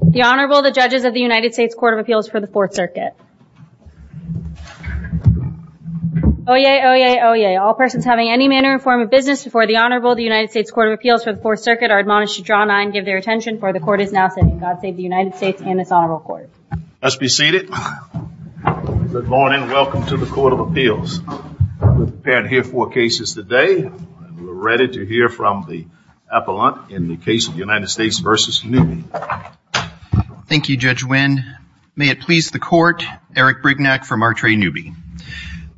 The Honorable the judges of the United States Court of Appeals for the Fourth Circuit. Oh yeah oh yeah oh yeah all persons having any manner or form of business before the Honorable the United States Court of Appeals for the Fourth Circuit are admonished to draw nine give their attention for the court is now sitting. God save the United States and this Honorable Court. Let's be seated. Good morning welcome to the Court of Appeals. We're prepared to hear four cases today. We're Thank you Judge Wynn. May it please the court Eric Brignac from Martrey Newby.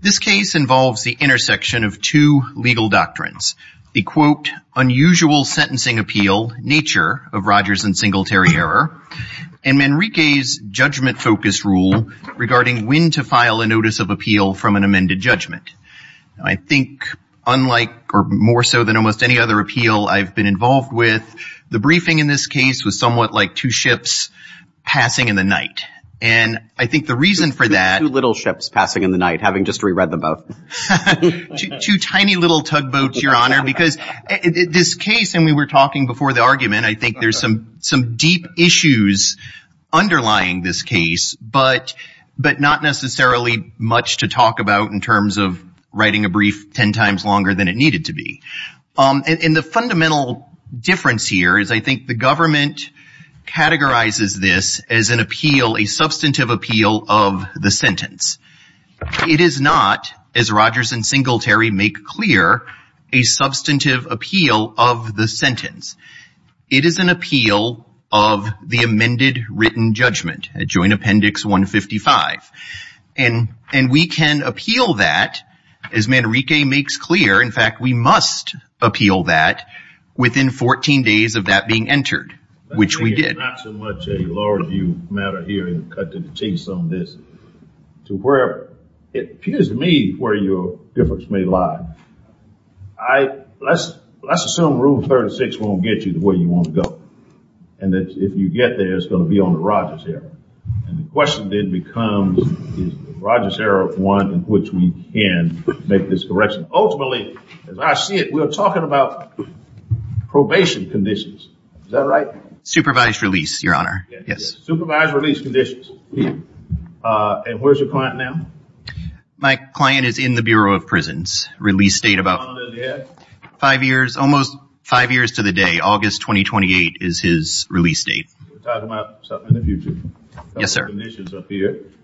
This case involves the intersection of two legal doctrines. The quote unusual sentencing appeal nature of Rogers and Singletary error and Manrique's judgment focus rule regarding when to file a notice of appeal from an amended judgment. I think unlike or more so than almost any other appeal I've been involved with the briefing in this case was somewhat like two ships passing in the night and I think the reason for that. Two little ships passing in the night having just re-read the boat. Two tiny little tugboats your honor because this case and we were talking before the argument I think there's some some deep issues underlying this case but but not necessarily much to talk about in terms of writing a brief ten times longer than it needed to be. In the fundamental difference here is I think the government categorizes this as an appeal a substantive appeal of the sentence. It is not as Rogers and Singletary make clear a substantive appeal of the sentence. It is an appeal of the amended written judgment a joint appendix 155 and and we can appeal that as Manrique makes clear in fact we must appeal that within 14 days of that being entered which we did. I think it's not so much a law review matter here in Cutler to change some of this to where it appears to me where your difference may lie. I let's assume rule 36 won't get you the way you want to go and that if you get there it's going to be on the Rogers error and the question then becomes Rogers error one in which we can make this correction. Ultimately as I see it we're talking about probation conditions. Is that right? Supervised release your honor. Yes. Supervised release conditions. And where's your client now? My client is in the Bureau of Prisons release date about five years almost five years to the day August 2028 is his release date. Yes sir.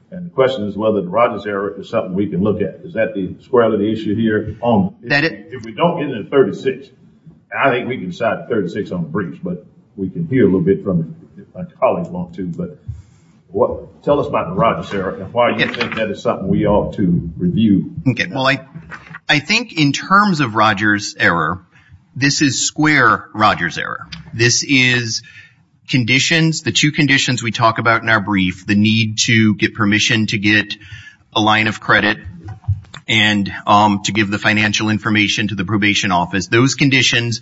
And the question is whether the Rogers error is something we can look at. Is that the square of the issue here? If we don't get into 36 I think we can decide 36 on the briefs but we can hear a little bit from a colleague won't too but what tell us about the Rogers error and why you think that is something we ought to review. Okay well I I think in terms of Rogers error this is square Rogers error. This is conditions the two conditions we talked about in our brief the need to get permission to get a line of credit and to give the financial information to the probation office. Those conditions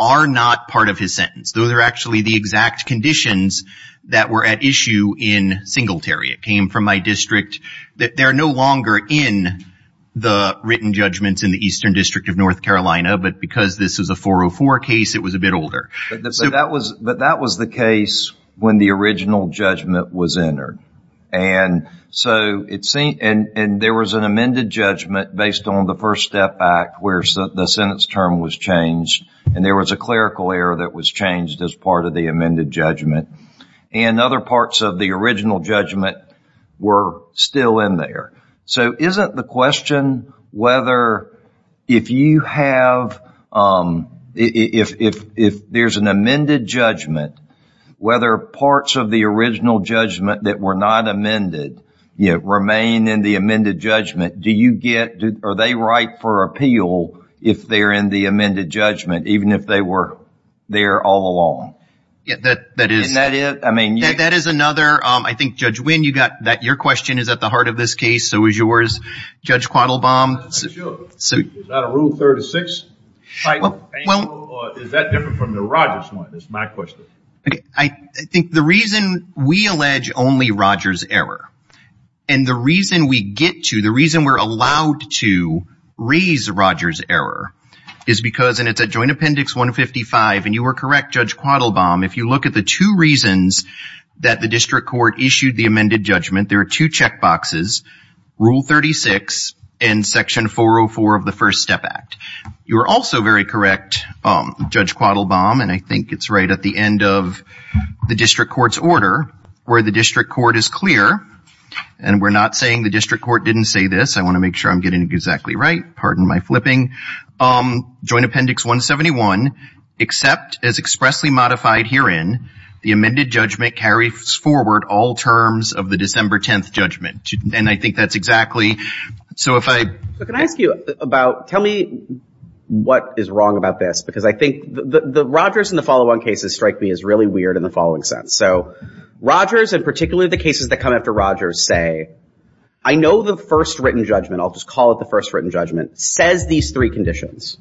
are not part of his sentence. Those are actually the exact conditions that were at issue in Singletary. It came from my district that they're no longer in the written judgments in the Eastern District of North Carolina but because this is a 404 case it was a bit older. So that was but that was the case when the original judgment was entered and so it seemed and and there was an amended judgment based on the first step back where the sentence term was changed and there was a clerical error that was changed as part of the amended judgment and other parts of the original judgment were still in there. So isn't the question whether if you have if if there's an amended judgment whether parts of the original judgment that were not amended yet remain in the amended judgment do you get are they right for appeal if they're in the amended judgment even if they were there all along? Yeah that that is that it I mean yeah that is another I think Judge Wynn you got that your question is at the heart of this case so is yours Judge 36? I think the reason we allege only Rogers error and the reason we get to the reason we're allowed to raise Rogers error is because and it's a joint appendix 155 and you were correct Judge Quattlebaum if you look at the two reasons that the district court issued the amended judgment there are two checkboxes rule 36 and section 404 of the First Step Act you are also very correct Judge Quattlebaum and I think it's right at the end of the district court's order where the district court is clear and we're not saying the district court didn't say this I want to make sure I'm getting exactly right pardon my flipping um joint appendix 171 except as expressly modified herein the that's exactly so if I can I ask you about tell me what is wrong about this because I think the Rogers and the follow-on cases strike me as really weird in the following sense so Rogers and particularly the cases that come after Rogers say I know the first written judgment I'll just call it the first written judgment says these three conditions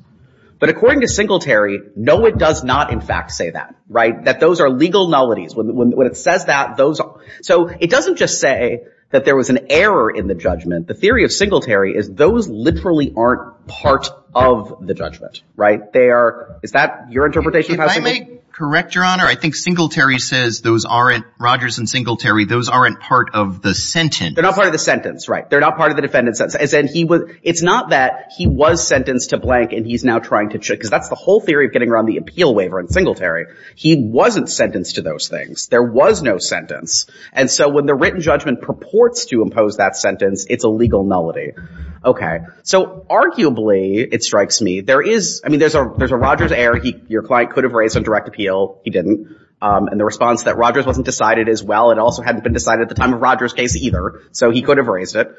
but according to Singletary no it does not in fact say that right that those are legal nullities when it says that those are so it doesn't just say that there was an error in the judgment the theory of Singletary is those literally aren't part of the judgment right they are is that your interpretation I may correct your honor I think Singletary says those aren't Rogers and Singletary those aren't part of the sentence they're not part of the sentence right they're not part of the defendant sense and he was it's not that he was sentenced to blank and he's now trying to check because that's the whole theory of getting around the appeal waiver in Singletary he wasn't sentenced to those things there was no sentence and so when the written judgment purports to impose that sentence it's a legal nullity okay so arguably it strikes me there is I mean there's a there's a Rogers error he your client could have raised a direct appeal he didn't and the response that Rogers wasn't decided as well it also hadn't been decided at the time of Rogers case either so he could have raised it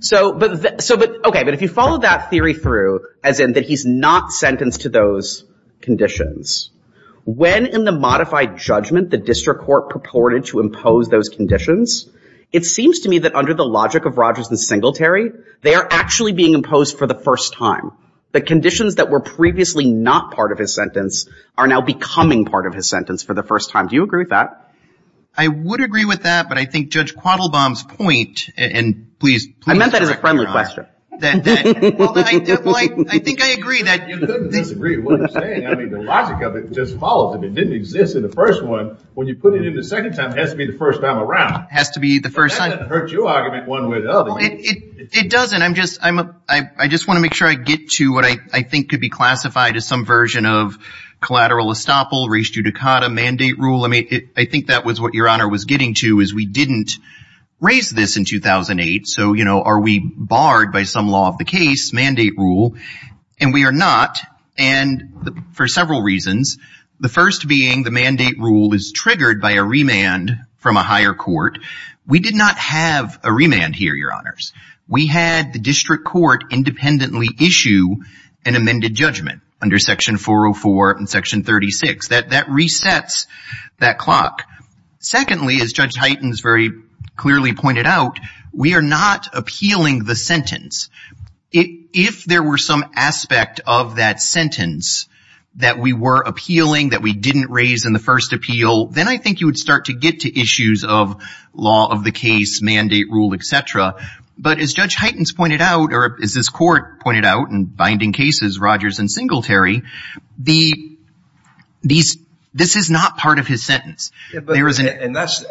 so but so but okay but if you follow that theory through as in that he's not sentenced to those conditions when in the modified judgment the district court purported to impose those conditions it seems to me that under the logic of Rogers and Singletary they are actually being imposed for the first time the conditions that were previously not part of his sentence are now becoming part of his sentence for the first time do you agree with that I would agree with that but I think judge quaddle bombs point and please I meant that is a friendly question I think I agree that the logic of it just follows if it didn't exist in the first one when you put it in the second time has to be the first time around has to be the first time it doesn't I'm just I'm a I just want to make sure I get to what I think could be classified as some version of collateral estoppel reached you to cut a mandate rule I mean I think that was what your 2008 so you know are we barred by some law of the case mandate rule and we are not and the for several reasons the first being the mandate rule is triggered by a remand from a higher court we did not have a remand here your honors we had the district court independently issue an amended judgment under section 404 and section 36 that that resets that clock secondly as judge very clearly pointed out we are not appealing the sentence if there were some aspect of that sentence that we were appealing that we didn't raise in the first appeal then I think you would start to get to issues of law of the case mandate rule etc but as judge heightens pointed out or is this court pointed out and binding cases Rogers and Singletary the these this is not part of his sentence there isn't and that's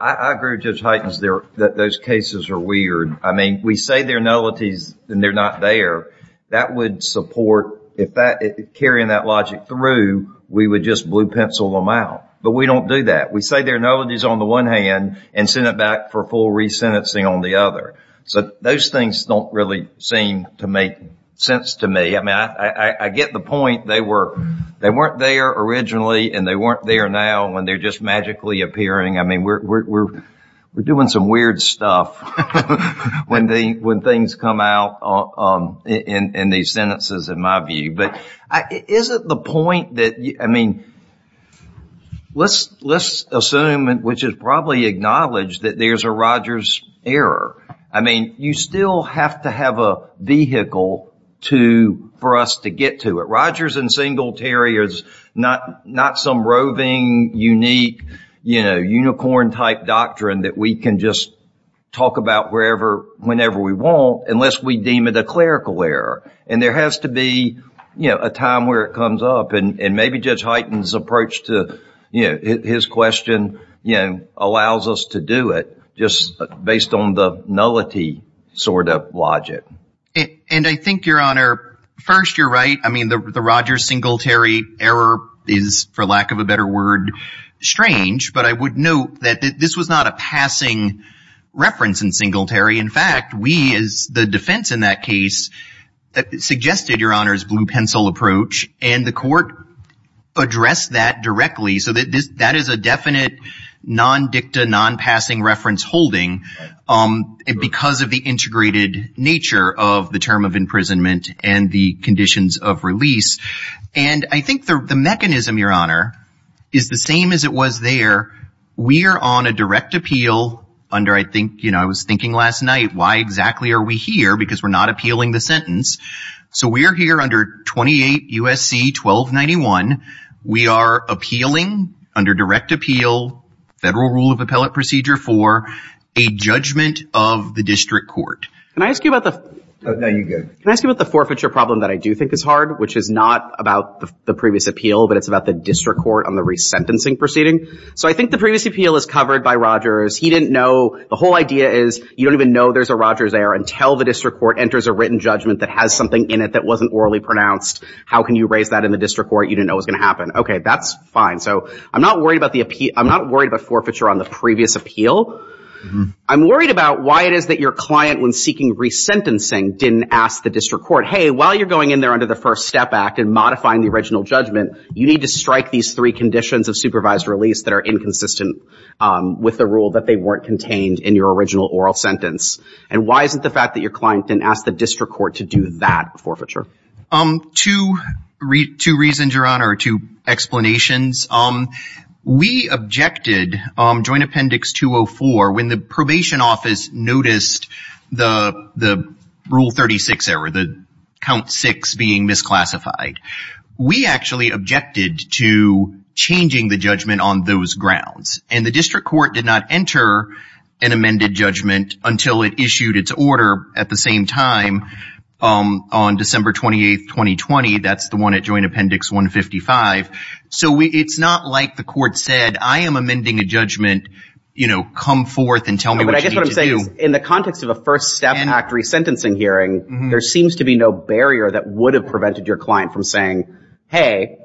I grew just heightens there that those cases are weird I mean we say they're nullities and they're not there that would support if that carrying that logic through we would just blue pencil them out but we don't do that we say they're nullities on the one hand and send it back for full resentencing on the other so those things don't really seem to make sense to me I mean I I get the point they were they weren't there originally and they weren't there now when they're just magically appearing I mean we're doing some weird stuff when they when things come out in these sentences in my view but is it the point that I mean let's let's assume and which is probably acknowledged that there's a Rogers error I mean you still have to not some roving unique you know unicorn type doctrine that we can just talk about wherever whenever we want unless we deem it a clerical error and there has to be you know a time where it comes up and maybe judge heightens approach to you know his question you know allows us to do it just based on the nullity sort of logic and I think your honor first you're right I mean the Rogers Singletary error is for lack of a better word strange but I would note that this was not a passing reference in Singletary in fact we is the defense in that case that suggested your honors blue pencil approach and the court addressed that directly so that this that is a definite non-dicta non-passing reference holding because of the integrated nature of the term of and I think the mechanism your honor is the same as it was there we are on a direct appeal under I think you know I was thinking last night why exactly are we here because we're not appealing the sentence so we're here under 28 USC 12 91 we are appealing under direct appeal federal rule of appellate procedure for a judgment of the district court can I ask you about the now you good can I ask you about the forfeiture problem that I do think is hard which is not about the previous appeal but it's about the district court on the resentencing proceeding so I think the previous appeal is covered by Rogers he didn't know the whole idea is you don't even know there's a Rogers there until the district court enters a written judgment that has something in it that wasn't orally pronounced how can you raise that in the district court you didn't know what's gonna happen okay that's fine so I'm not worried about the appeal I'm not worried about forfeiture on the previous appeal I'm worried about why it is that your client when seeking resentencing didn't ask the district court hey while you're going in there under the first step act and modifying the original judgment you need to strike these three conditions of supervised release that are inconsistent with the rule that they weren't contained in your original oral sentence and why isn't the fact that your client didn't ask the district court to do that forfeiture um to read two reasons your honor to explanations um we objected joint appendix 204 when the probation office noticed the the rule 36 error the count six being misclassified we actually objected to changing the judgment on those grounds and the district court did not enter an amended judgment until it issued its order at the same time on December 28th 2020 that's the one at joint appendix 155 so we it's not like the court said I am amending a judgment you know come forth and tell me what I in the context of a first step factory sentencing hearing there seems to be no barrier that would have prevented your client from saying hey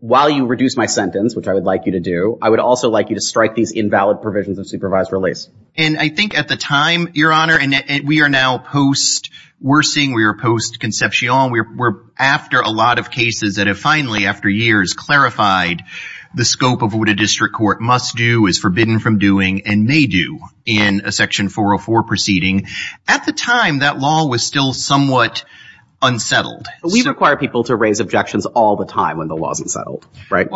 while you reduce my sentence which I would like you to do I would also like you to strike these invalid provisions of supervised release and I think at the time your honor and we are now post-worsening we are post-conceptual we're after a lot of cases that have finally after years clarified the scope of what a district court must do is forbidden from doing and may do in a section 404 proceeding at the time that law was still somewhat unsettled we require people to raise objections all the time when the laws and settled right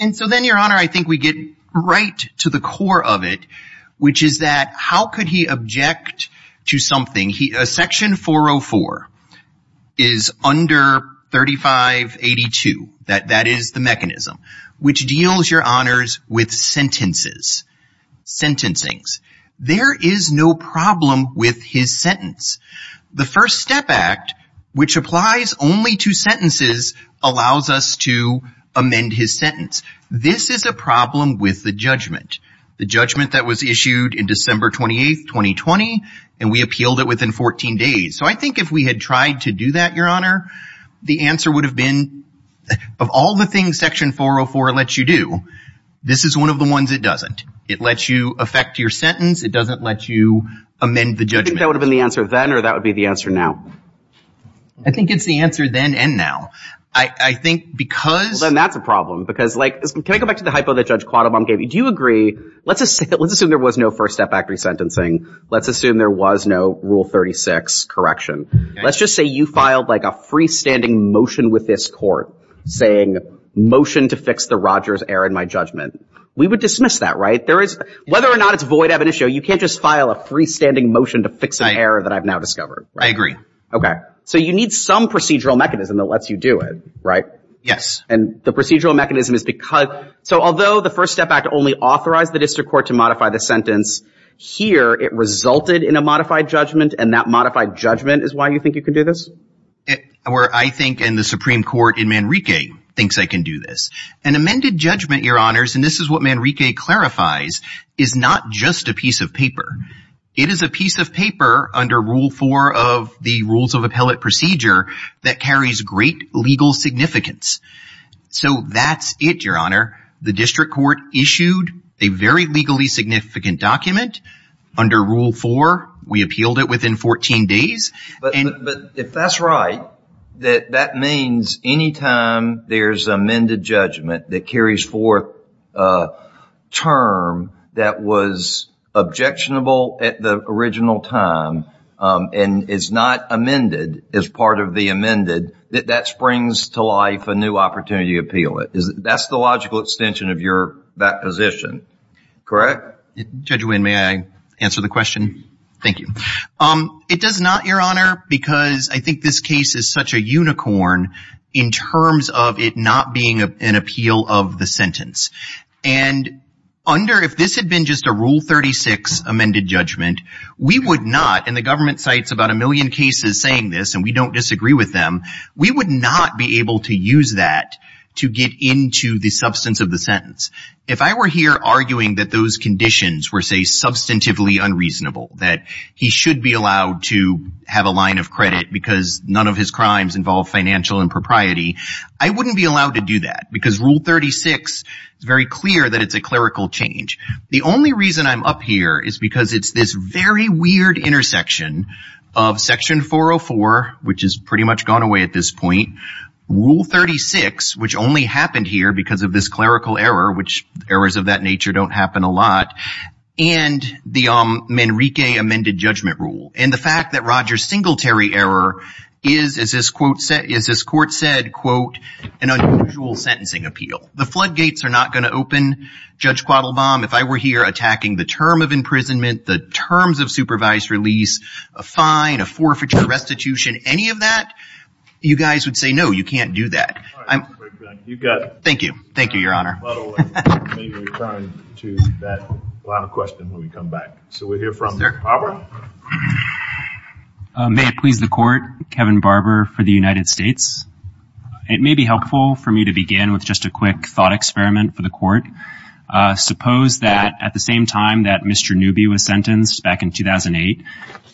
and so then your honor I think we get right to the core of it which is that how could he object to something he a section 404 is under 3582 that that is the mechanism which deals your honors with sentences sentencing's there is no problem with his sentence the first step act which applies only to sentences allows us to amend his sentence this is a problem with the judgment the judgment that was issued in December 28 2020 and we appealed it within 14 days so I think if we had tried to do that your honor the answer would have been of all the things section 404 lets you do this is one of the ones that doesn't it lets you affect your sentence it doesn't let you amend the judgment that would have been the answer then or that would be the answer now I think it's the answer then and now I think because then that's a problem because like can I go back to the hypo that Judge Quattlebaum gave you do you agree let's just let's assume there was no first step act resentencing let's assume there was no rule 36 correction let's just say you filed like a freestanding motion with this court saying motion to fix the judgment we would dismiss that right there is whether or not it's void evidential you can't just file a freestanding motion to fix an error that I've now discovered I agree okay so you need some procedural mechanism that lets you do it right yes and the procedural mechanism is because so although the first step act only authorized the district court to modify the sentence here it resulted in a modified judgment and that modified judgment is why you think you can do this where I think in the Supreme Court in Manrique thinks I can do this an amended judgment your honors and this is what Manrique clarifies is not just a piece of paper it is a piece of paper under rule four of the rules of appellate procedure that carries great legal significance so that's it your honor the district court issued a very legally significant document under rule four we appealed it within 14 days but if that's right that means anytime there's amended judgment that carries forth term that was objectionable at the original time and it's not amended as part of the amended that that springs to life a new opportunity appeal it is that's the logical extension of your back position correct judge win may I answer the question thank you um it does not your honor because I think this case is such a unicorn in terms of it not being a an appeal of the sentence and under if this had been just a rule 36 amended judgment we would not in the government sites about a million cases saying this and we don't disagree with them we would not be able to use that to get into the substance of the sentence if I were here arguing that those conditions were say substantively unreasonable that he should be allowed to have a line of credit because none of his crimes involve financial impropriety I wouldn't be allowed to do that because rule 36 it's very clear that it's a clerical change the only reason I'm up here is because it's this very weird intersection of section 404 which is pretty much gone away at this point rule 36 which only happened here because of this clerical error which errors of that nature don't happen a lot and the um Enrique amended judgment rule and the fact that Rogers singletary error is as this quote set is as court said quote an unusual sentencing appeal the floodgates are not going to open judge quaddle bomb if I were here attacking the term of imprisonment the terms of supervised release a fine a forfeiture restitution any of that you guys would say no you can't do that I'm you got thank you thank you your honor please the court Kevin Barber for the United States it may be helpful for me to begin with just a quick thought experiment for the court suppose that at the same time that mr. Newby was sentenced back in 2008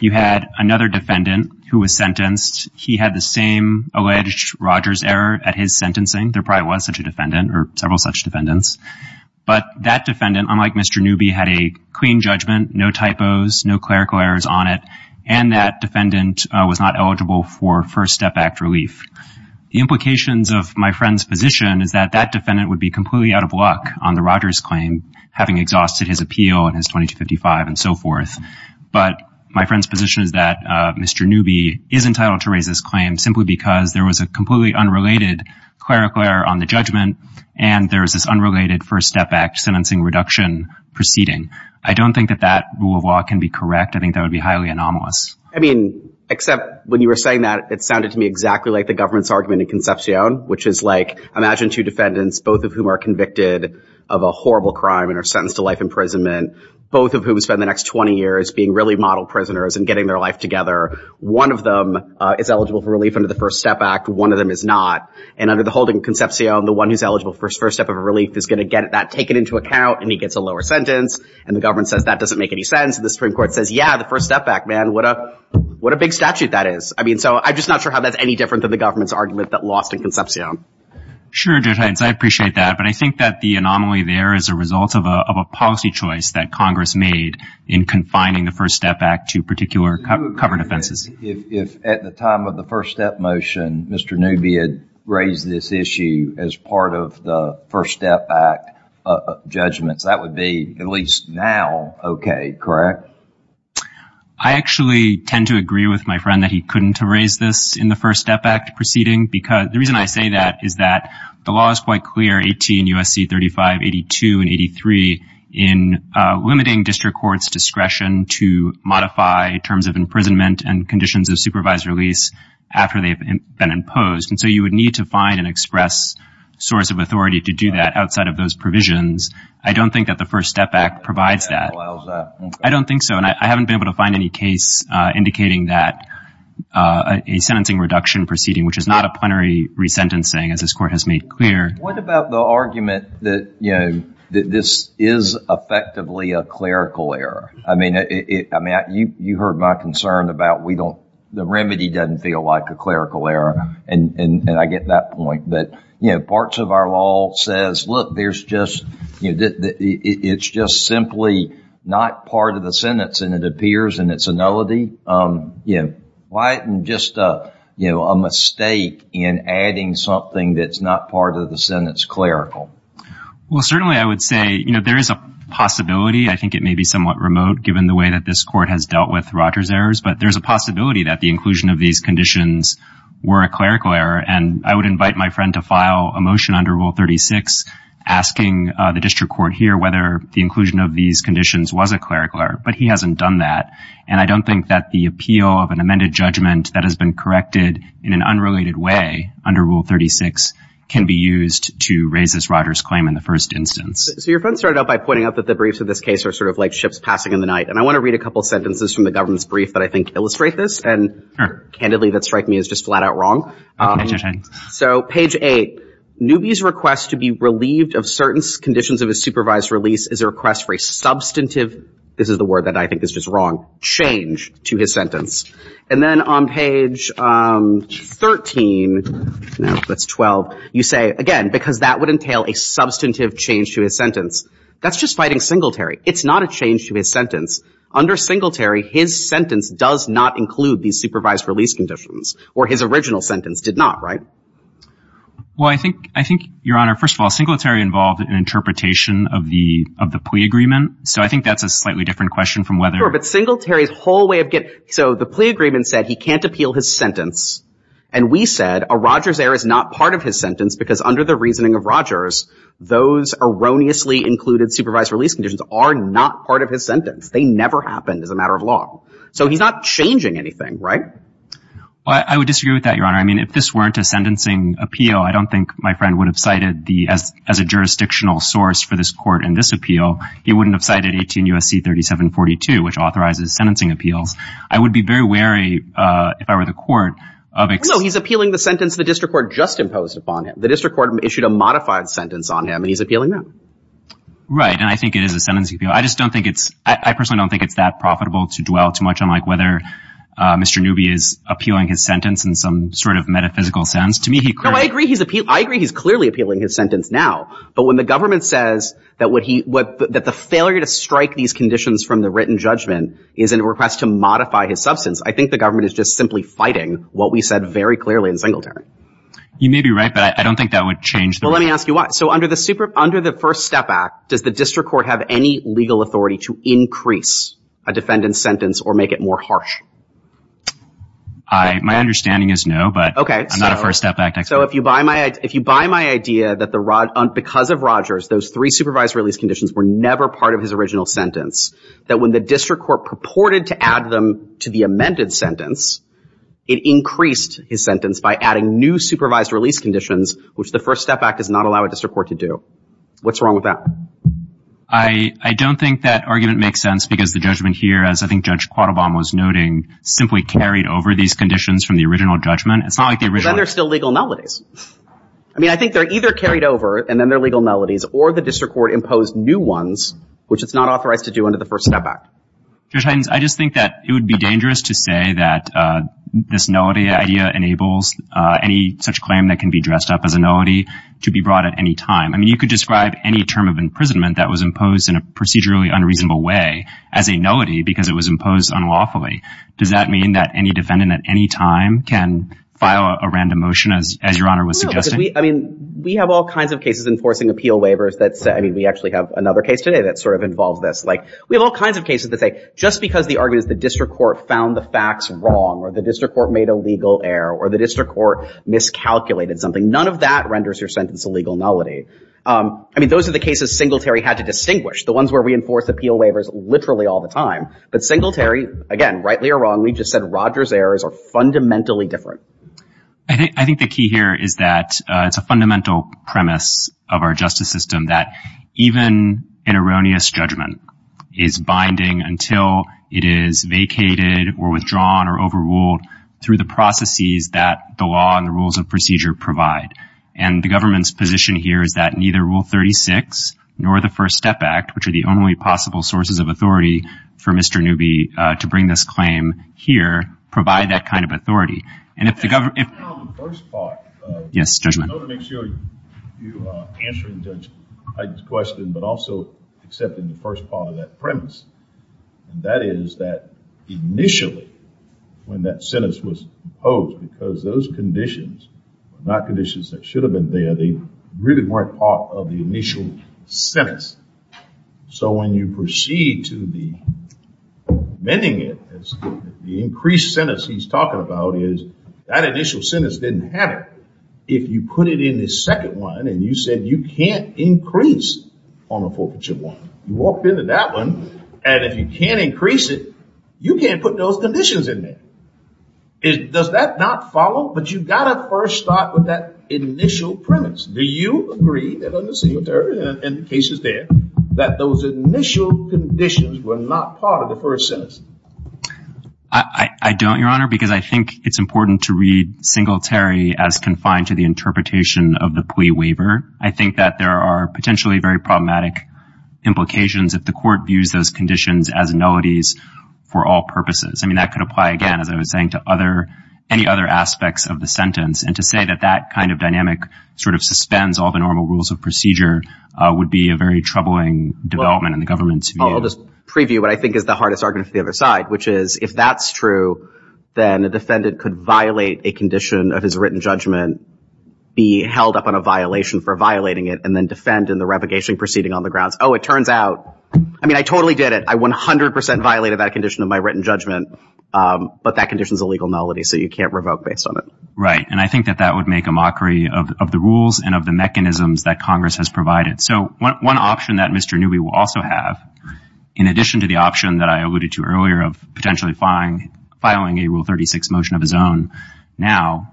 you had another defendant who was sentenced he had the same alleged Rogers error at his several such defendants but that defendant unlike mr. Newby had a clean judgment no typos no clerical errors on it and that defendant was not eligible for first step act relief the implications of my friend's position is that that defendant would be completely out of luck on the Rogers claim having exhausted his appeal and his 2255 and so forth but my friend's position is that mr. Newby is entitled to raise this claim simply because there was a there's this unrelated first step back sentencing reduction proceeding I don't think that that can be correct I think that would be highly anomalous I mean except when you were saying that it sounded to me exactly like the government's argument in Concepcion which is like imagine two defendants both of whom are convicted of a horrible crime and are sentenced to life imprisonment both of whom spend the next 20 years being really model prisoners and getting their life together one of them is eligible for relief under the first step act one of them is not and under the holding Concepcion the one who's eligible for his first step of a relief is gonna get that taken into account and he gets a lower sentence and the government says that doesn't make any sense the Supreme Court says yeah the first step back man what a what a big statute that is I mean so I'm just not sure how that's any different than the government's argument that lost in Concepcion sure did hence I appreciate that but I think that the anomaly there is a result of a policy choice that Congress made in confining the first step back to particular covered offenses if at the time of the first step motion mr. Newby had raised this issue as part of the first step back judgments that would be at least now okay correct I actually tend to agree with my friend that he couldn't raise this in the first step back to proceeding because the reason I say that is that the law is quite clear 18 USC 35 82 and 83 in limiting district courts discretion to supervise release after they've been imposed and so you would need to find an express source of authority to do that outside of those provisions I don't think that the first step back provides that I don't think so and I haven't been able to find any case indicating that a sentencing reduction proceeding which is not a plenary resentencing as this court has made clear what about the argument that you know that this is effectively a clerical error I mean it I mean you you heard my concern about we don't the remedy doesn't feel like a clerical error and and I get that point but you know parts of our law says look there's just you did it's just simply not part of the sentence and it appears and it's a nullity you know why and just uh you know a mistake in adding something that's not part of the sentence clerical well certainly I would say you know there is a possibility I think it may be somewhat remote given the way that this court has dealt with Rogers errors but there's a possibility that the inclusion of these conditions were a clerical error and I would invite my friend to file a motion under rule 36 asking the district court here whether the inclusion of these conditions was a clerical error but he hasn't done that and I don't think that the appeal of an amended judgment that has been corrected in an unrelated way under rule 36 can be used to raise this Rogers claim in the first instance so your friend started out by pointing out that the briefs of this case are sort of like ships passing in the night and I want to read a couple sentences from the government's brief that I think illustrate this and candidly that strike me as just flat-out wrong so page 8 newbies request to be relieved of certain conditions of a supervised release is a request for a substantive this is the word that I think is just wrong change to his sentence and then on page 13 that's 12 you say again because that would entail a substantive change to his sentence that's just fighting singletary it's not a change to his sentence under singletary his sentence does not include these supervised release conditions or his original sentence did not right well I think I think your honor first of all singletary involved in interpretation of the of the plea agreement so I think that's a slightly different question from whether but singletary's whole way of get so the plea agreement said he can't appeal his sentence and we said a Rogers error is not part of his sentence because under the reasoning of Rogers those erroneously included supervised release conditions are not part of his sentence they never happened as a matter of law so he's not changing anything right I would disagree with that your honor I mean if this weren't a sentencing appeal I don't think my friend would have cited the as as a jurisdictional source for this court in this appeal he wouldn't have cited 18 USC 3742 which authorizes sentencing appeals I would be very wary if I were the court of it so he's appealing the sentence the district court just imposed upon him the district court issued a sentence appeal I just don't think it's I personally don't think it's that profitable to dwell too much on like whether mr. newbie is appealing his sentence and some sort of metaphysical sounds to me he could I agree he's appeal I agree he's clearly appealing his sentence now but when the government says that what he would that the failure to strike these conditions from the written judgment is in a request to modify his substance I think the government is just simply fighting what we said very clearly in singletary you may be right but I don't think that would change well let me ask you what so under the super under the first step back does the district court have any legal authority to increase a defendant's sentence or make it more harsh I my understanding is no but okay I'm not a first step back next so if you buy my if you buy my idea that the rod because of Rogers those three supervised release conditions were never part of his original sentence that when the district court purported to add them to the amended sentence it increased his sentence by adding new supervised release conditions which the first step back does not allow a district court to do what's wrong with that I I don't think that argument makes sense because the judgment here as I think judge quattle bomb was noting simply carried over these conditions from the original judgment it's not like the original they're still legal melodies I mean I think they're either carried over and then they're legal melodies or the district court imposed new ones which it's not authorized to do under the first step back there's times I just think that it would be dangerous to say that this melody idea enables any such claim that can be dressed up as a melody to be brought at any time I mean you could describe any term of imprisonment that was imposed in a procedurally unreasonable way as a melody because it was imposed unlawfully does that mean that any defendant at any time can file a random motion as as your honor was suggesting I mean we have all kinds of cases enforcing appeal waivers that's I mean we actually have another case today that sort of involves this like we have all kinds of cases that say just because the argument is the district court found the facts wrong or the district court made a legal error or the district court miscalculated something none of that renders your sentence a legal melody I mean those are the cases Singletary had to distinguish the ones where we enforce appeal waivers literally all the time but Singletary again rightly or wrongly just said Rogers errors are fundamentally different I think I think the key here is that it's a fundamental premise of our justice system that even an erroneous judgment is binding until it is vacated or withdrawn or overruled through the and the government's position here is that neither rule 36 nor the First Step Act which are the only possible sources of authority for mr. newbie to bring this claim here provide that kind of authority and if the government yes judgment make sure you answer the judge's question but also accepting the first part of that premise and that is that initially when that sentence was opposed because those conditions not conditions that should have been there they really weren't part of the initial sentence so when you proceed to the bending it as the increased sentence he's talking about is that initial sentence didn't have it if you put it in this second one and you said you can't increase on a forfeiture one you walked into that one and if you can't increase it you can't put those conditions in there it does that not follow but you gotta first start with that initial premise do you agree in cases there that those initial conditions were not part of the first sentence I don't your honor because I think it's important to read Singletary as confined to the interpretation of the plea waiver I think that there are potentially very for all purposes I mean I could apply again as I was saying to other any other aspects of the sentence and to say that that kind of dynamic sort of suspends all the normal rules of procedure would be a very troubling development in the government's I'll just preview what I think is the hardest argument the other side which is if that's true then the defendant could violate a condition of his written judgment be held up on a violation for violating it and then defend in the repugnation proceeding on the grounds oh it turns out I mean I totally did it I 100% violated that condition of my written judgment but that conditions a legal nullity so you can't revoke based on it right and I think that that would make a mockery of the rules and of the mechanisms that Congress has provided so one option that mr. newbie will also have in addition to the option that I alluded to earlier of potentially fine filing a rule 36 motion of his own now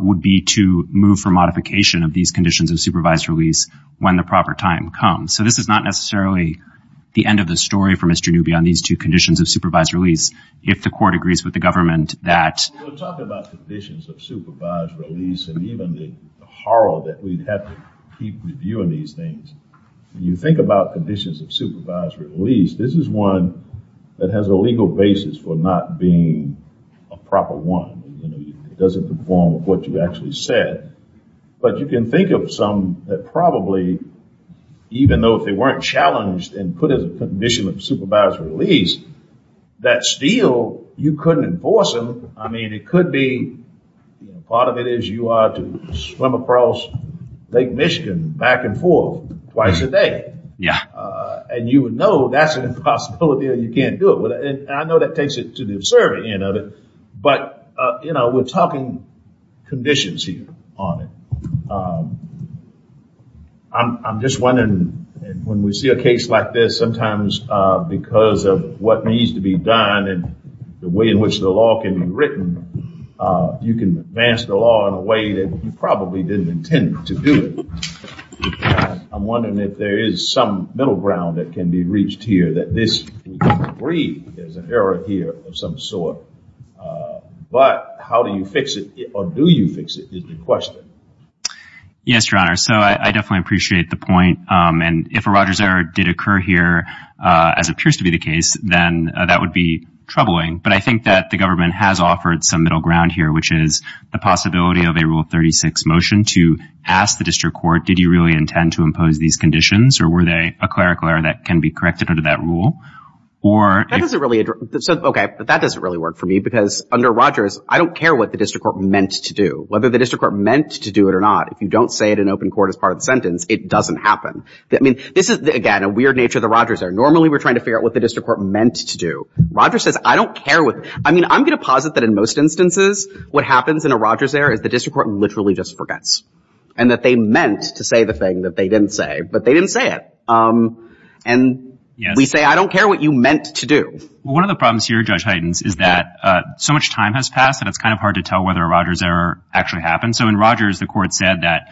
would be to move for modification of these conditions of supervised release when the proper time comes so this is not necessarily the end of the story for mr. newbie on these two conditions of supervised release if the court agrees with the government that you think about conditions of supervised release this is one that has a legal basis for not being a proper one doesn't perform what you actually said but you can think of some that probably even though if they weren't challenged and put as a condition of supervised release that steel you couldn't enforce them I mean it could be part of it is you are to swim across Lake Michigan back and forth twice a day yeah and you would know that's an impossibility you can't do it with it I know that takes it to the absurd end of it but you know we're talking conditions here on it I'm just wondering when we see a case like this sometimes because of what needs to be done and the way in which the law can be written you can advance the law in a way that you probably didn't intend to do it I'm wondering if there is some middle ground that can be reached here that this breed is an error here of some sort but how do you fix it or do you fix it is the question yes your honor so I definitely appreciate the point and if a Rogers error did occur here as it appears to be the case then that would be troubling but I think that the government has offered some middle ground here which is the possibility of a rule 36 motion to ask the district court did you really intend to impose these conditions or were they a clerical error that can be corrected under that rule or that doesn't really okay but that doesn't really work for me because under Rogers I don't care what the district court meant to do whether the district court meant to do it or not if you don't say it in open court as part of its sentence it doesn't happen I mean this is again a weird nature of the Rogers error normally we're trying to figure out what the district court meant to do Roger says I don't care what I mean I'm gonna posit that in most instances what happens in a Rogers error is the district court literally just forgets and that they meant to say the thing that they didn't say but they didn't say it and we say I don't care what you meant to do one of the problems here judge Hayden's is that so much time has passed and it's kind of hard to tell whether a Rogers error actually happened so in Rogers the court said that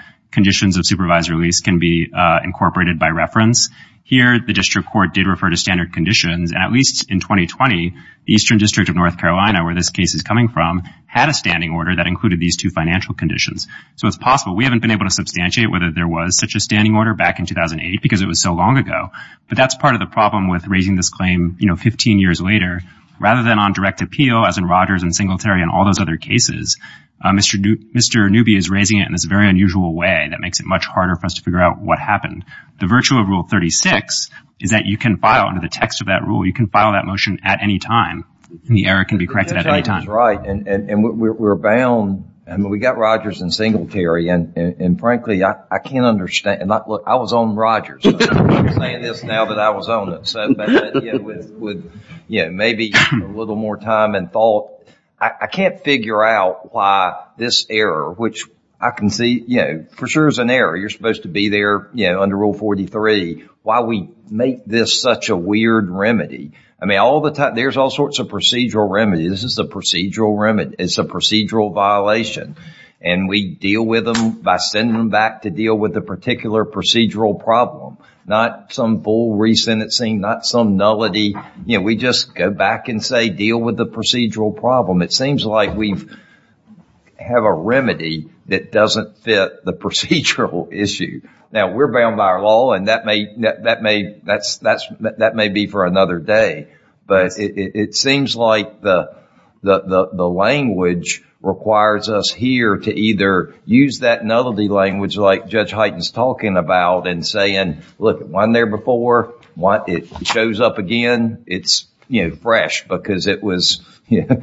supervisor lease can be incorporated by reference here the district court did refer to standard conditions and at least in 2020 the Eastern District of North Carolina where this case is coming from had a standing order that included these two financial conditions so it's possible we haven't been able to substantiate whether there was such a standing order back in 2008 because it was so long ago but that's part of the problem with raising this claim you know 15 years later rather than on direct appeal as in Rogers and Singletary and all those other cases mr. new mr. newbie is raising it in this very unusual way that makes it much harder for us to figure out what happened the virtue of rule 36 is that you can file under the text of that rule you can file that motion at any time the error can be corrected at any time right and we're bound and we got Rogers and Singletary and and frankly I can't understand look I was on Rogers yeah maybe a little more time and thought I can't figure out why this error which I can see you know for sure is an error you're supposed to be there you know under rule 43 why we make this such a weird remedy I mean all the time there's all sorts of procedural remedies this is the procedural remedy it's a procedural violation and we deal with them by sending them back to deal with the particular procedural problem not some full re-sentencing not some nullity you know we just go back and say deal with the procedural problem it have a remedy that doesn't fit the procedural issue now we're bound by our law and that may that may that's that's that may be for another day but it seems like the the language requires us here to either use that nullity language like judge Heighton's talking about and saying look at one there before what it shows up again it's you know fresh because it was yeah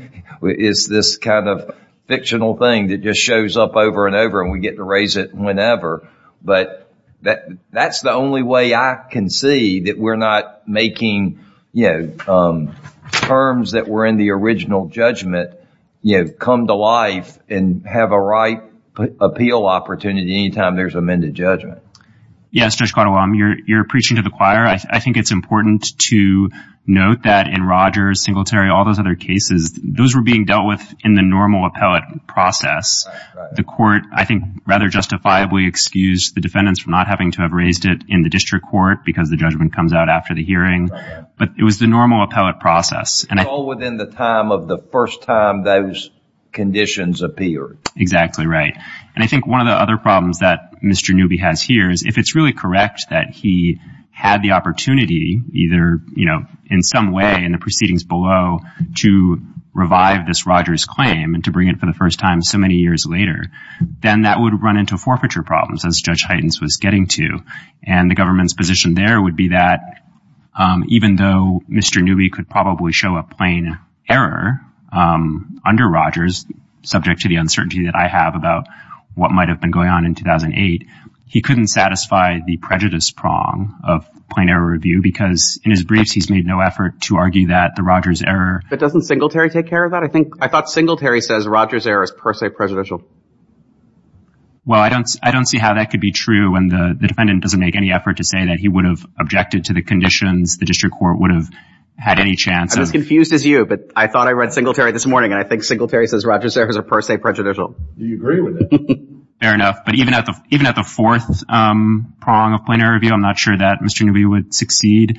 is this kind of thing that just shows up over and over and we get to raise it whenever but that that's the only way I can see that we're not making you know terms that were in the original judgment you know come to life and have a right appeal opportunity anytime there's amended judgment yes there's quite a while I'm you're preaching to the choir I think it's important to note that in Rogers Singletary all those other cases those were being dealt with in the normal appellate process the court I think rather justifiably excused the defendants from not having to have raised it in the district court because the judgment comes out after the hearing but it was the normal appellate process and all within the time of the first time those conditions appear exactly right and I think one of the other problems that mr. newbie has here is if it's really correct that he had the opportunity either you know in some way in the proceedings below to revive this Rogers claim and to bring it for the first time so many years later then that would run into forfeiture problems as judge Heiden's was getting to and the government's position there would be that even though mr. newbie could probably show a plain error under Rogers subject to the uncertainty that I have about what might have been going on in 2008 he couldn't satisfy the prejudice prong of plain error review because in that the Rogers error that doesn't Singletary take care of that I think I thought Singletary says Rogers errors per se prejudicial well I don't I don't see how that could be true and the defendant doesn't make any effort to say that he would have objected to the conditions the district court would have had any chance as confused as you but I thought I read Singletary this morning I think Singletary says Rogers errors are per se prejudicial fair enough but even at the even at the fourth prong of plainer review I'm not sure that mr. newbie would succeed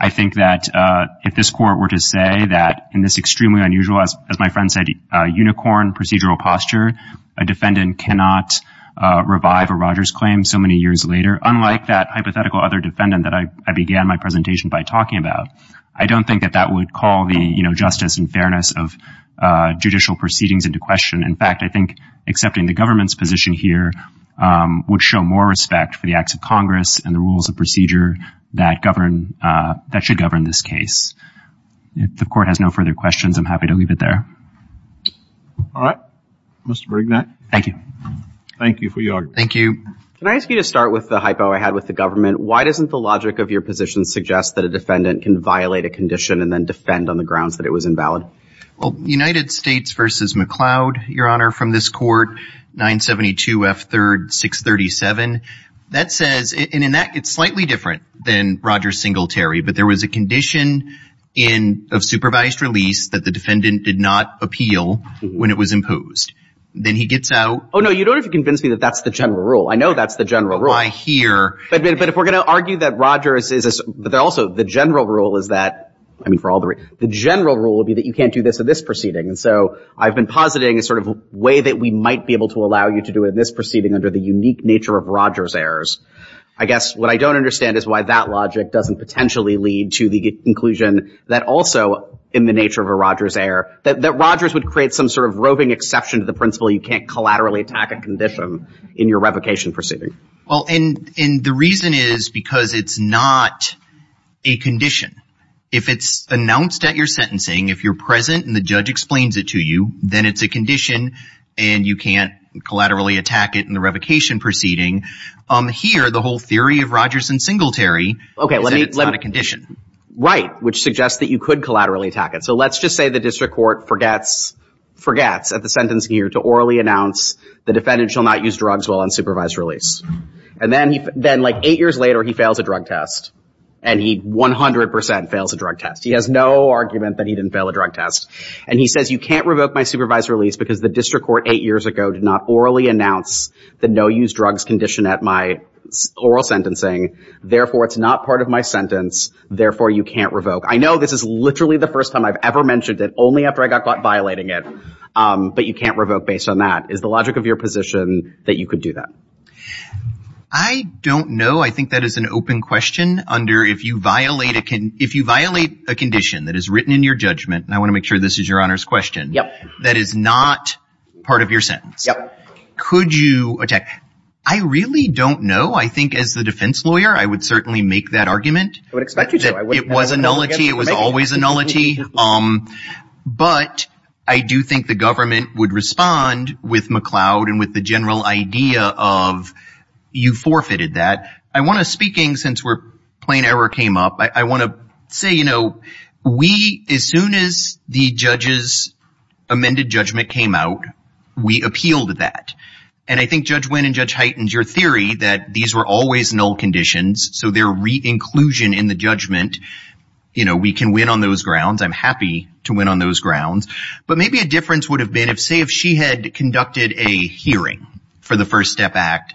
I think that if this court were to say that in this extremely unusual as my friend said unicorn procedural posture a defendant cannot revive a Rogers claim so many years later unlike that hypothetical other defendant that I began my presentation by talking about I don't think that that would call the you know justice and fairness of judicial proceedings into question in fact I think accepting the government's position here would show more respect for the acts of Congress and the rules of procedure that govern that should govern this case if the court has no further questions I'm happy to leave it there all right mr. Brignac thank you thank you for your thank you can I ask you to start with the hypo I had with the government why doesn't the logic of your position suggest that a defendant can violate a condition and then defend on the grounds that it was invalid well United States versus McLeod your honor from this court 972 f3rd 637 that says and in that it's slightly different than Rogers Singletary but there was a condition in of supervised release that the defendant did not appeal when it was imposed then he gets out oh no you don't have to convince me that that's the general rule I know that's the general rule I hear but if we're gonna argue that Rogers is but they're also the general rule is that I mean for all the rate the general rule would be that you can't do this in this proceeding and so I've been positing a sort of way that we might be able to allow you to do in this errors I guess what I don't understand is why that logic doesn't potentially lead to the inclusion that also in the nature of a Rogers error that Rogers would create some sort of roving exception to the principle you can't collaterally attack a condition in your revocation proceeding well and in the reason is because it's not a condition if it's announced at your sentencing if you're present and the judge explains it to you then it's a condition and you can't collaterally attack it in the revocation proceeding um here the whole theory of Rogers and Singletary okay let me let a condition right which suggests that you could collaterally attack it so let's just say the district court forgets forgets at the sentence here to orally announce the defendant shall not use drugs while unsupervised release and then then like eight years later he fails a drug test and he 100% fails a drug test he has no argument that he didn't fail a drug test and he says you can't revoke my supervised release because the district court eight years ago did not orally announce the no use drugs condition at my oral sentencing therefore it's not part of my sentence therefore you can't revoke I know this is literally the first time I've ever mentioned that only after I got caught violating it but you can't revoke based on that is the logic of your position that you could do that I don't know I think that is an open question under if you violate it can if you violate a condition that is written in your judgment and I want to make sure this is your honor's question yep that is not part of your sentence yeah could you attack I really don't know I think as the defense lawyer I would certainly make that argument I would expect it was a nullity it was always a nullity um but I do think the government would respond with McLeod and with the general idea of you forfeited that I want to speaking since we're plain error came up I want to say you know we as soon as the judges amended judgment came out we appealed that and I think judge went and judge heightens your theory that these were always null conditions so their inclusion in the judgment you know we can win on those grounds I'm happy to win on those grounds but maybe a difference would have been if say if she had conducted a hearing for the first step act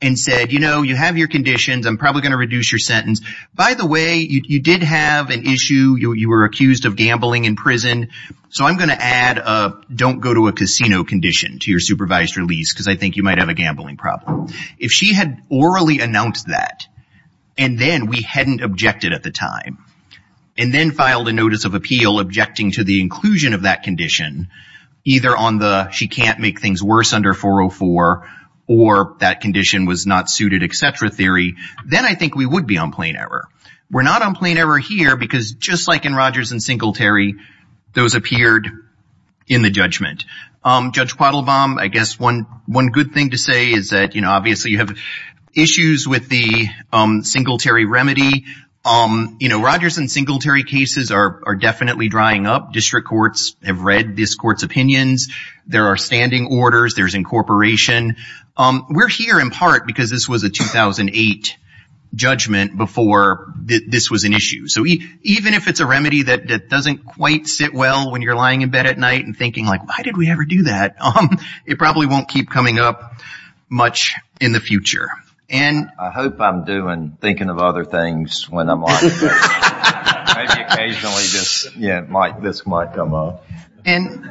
and said you know you have your conditions I'm probably gonna reduce your sentence by the way you did have an issue you were accused of gambling in prison so I'm gonna add a don't go to a casino condition to your supervised release because I think you might have a gambling problem if she had orally announced that and then we hadn't objected at the time and then filed a notice of appeal objecting to the inclusion of that condition either on the she can't make things worse under 404 or that condition was not suited etc theory then I think we would be on plain error we're not on plain error here because just like in Rogers and Singletary those appeared in the judgment judge Padel bomb I guess one one good thing to say is that you know obviously you have issues with the Singletary remedy um you know Rogers and Singletary cases are definitely drying up district courts have read this court's opinions there are standing orders there's incorporation we're here in part because this was a 2008 judgment before this was an issue so even if it's a remedy that doesn't quite sit well when you're lying in bed at night and thinking like why did we ever do that um it probably won't keep coming up much in the future and I hope I'm doing thinking of other things when I'm like this yeah like this might come up and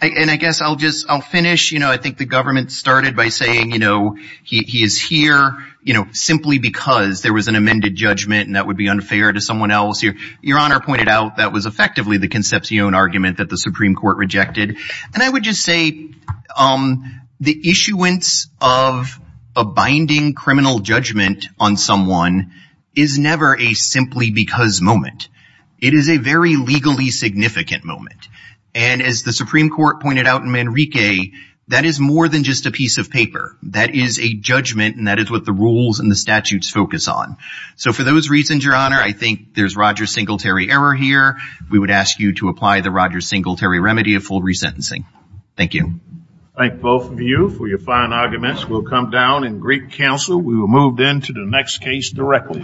I guess I'll just I'll finish you know I think the government started by saying you know he is here you know simply because there was an amended judgment and that would be unfair to someone else here your honor pointed out that was effectively the conception argument that the Supreme Court rejected and I would just say the issuance of a binding criminal judgment on someone is never a simply because moment it is a very legally significant moment and as the Supreme Court pointed out in Enrique that is more than just a piece of paper that is a judgment and that is what the rules and the statutes focus on so for those reasons your honor I think there's Rogers Singletary error here we would ask you to apply the Rogers Singletary remedy of full resentencing thank you thank both of you for your fine arguments will come down in Greek Council we will move then to the next case directly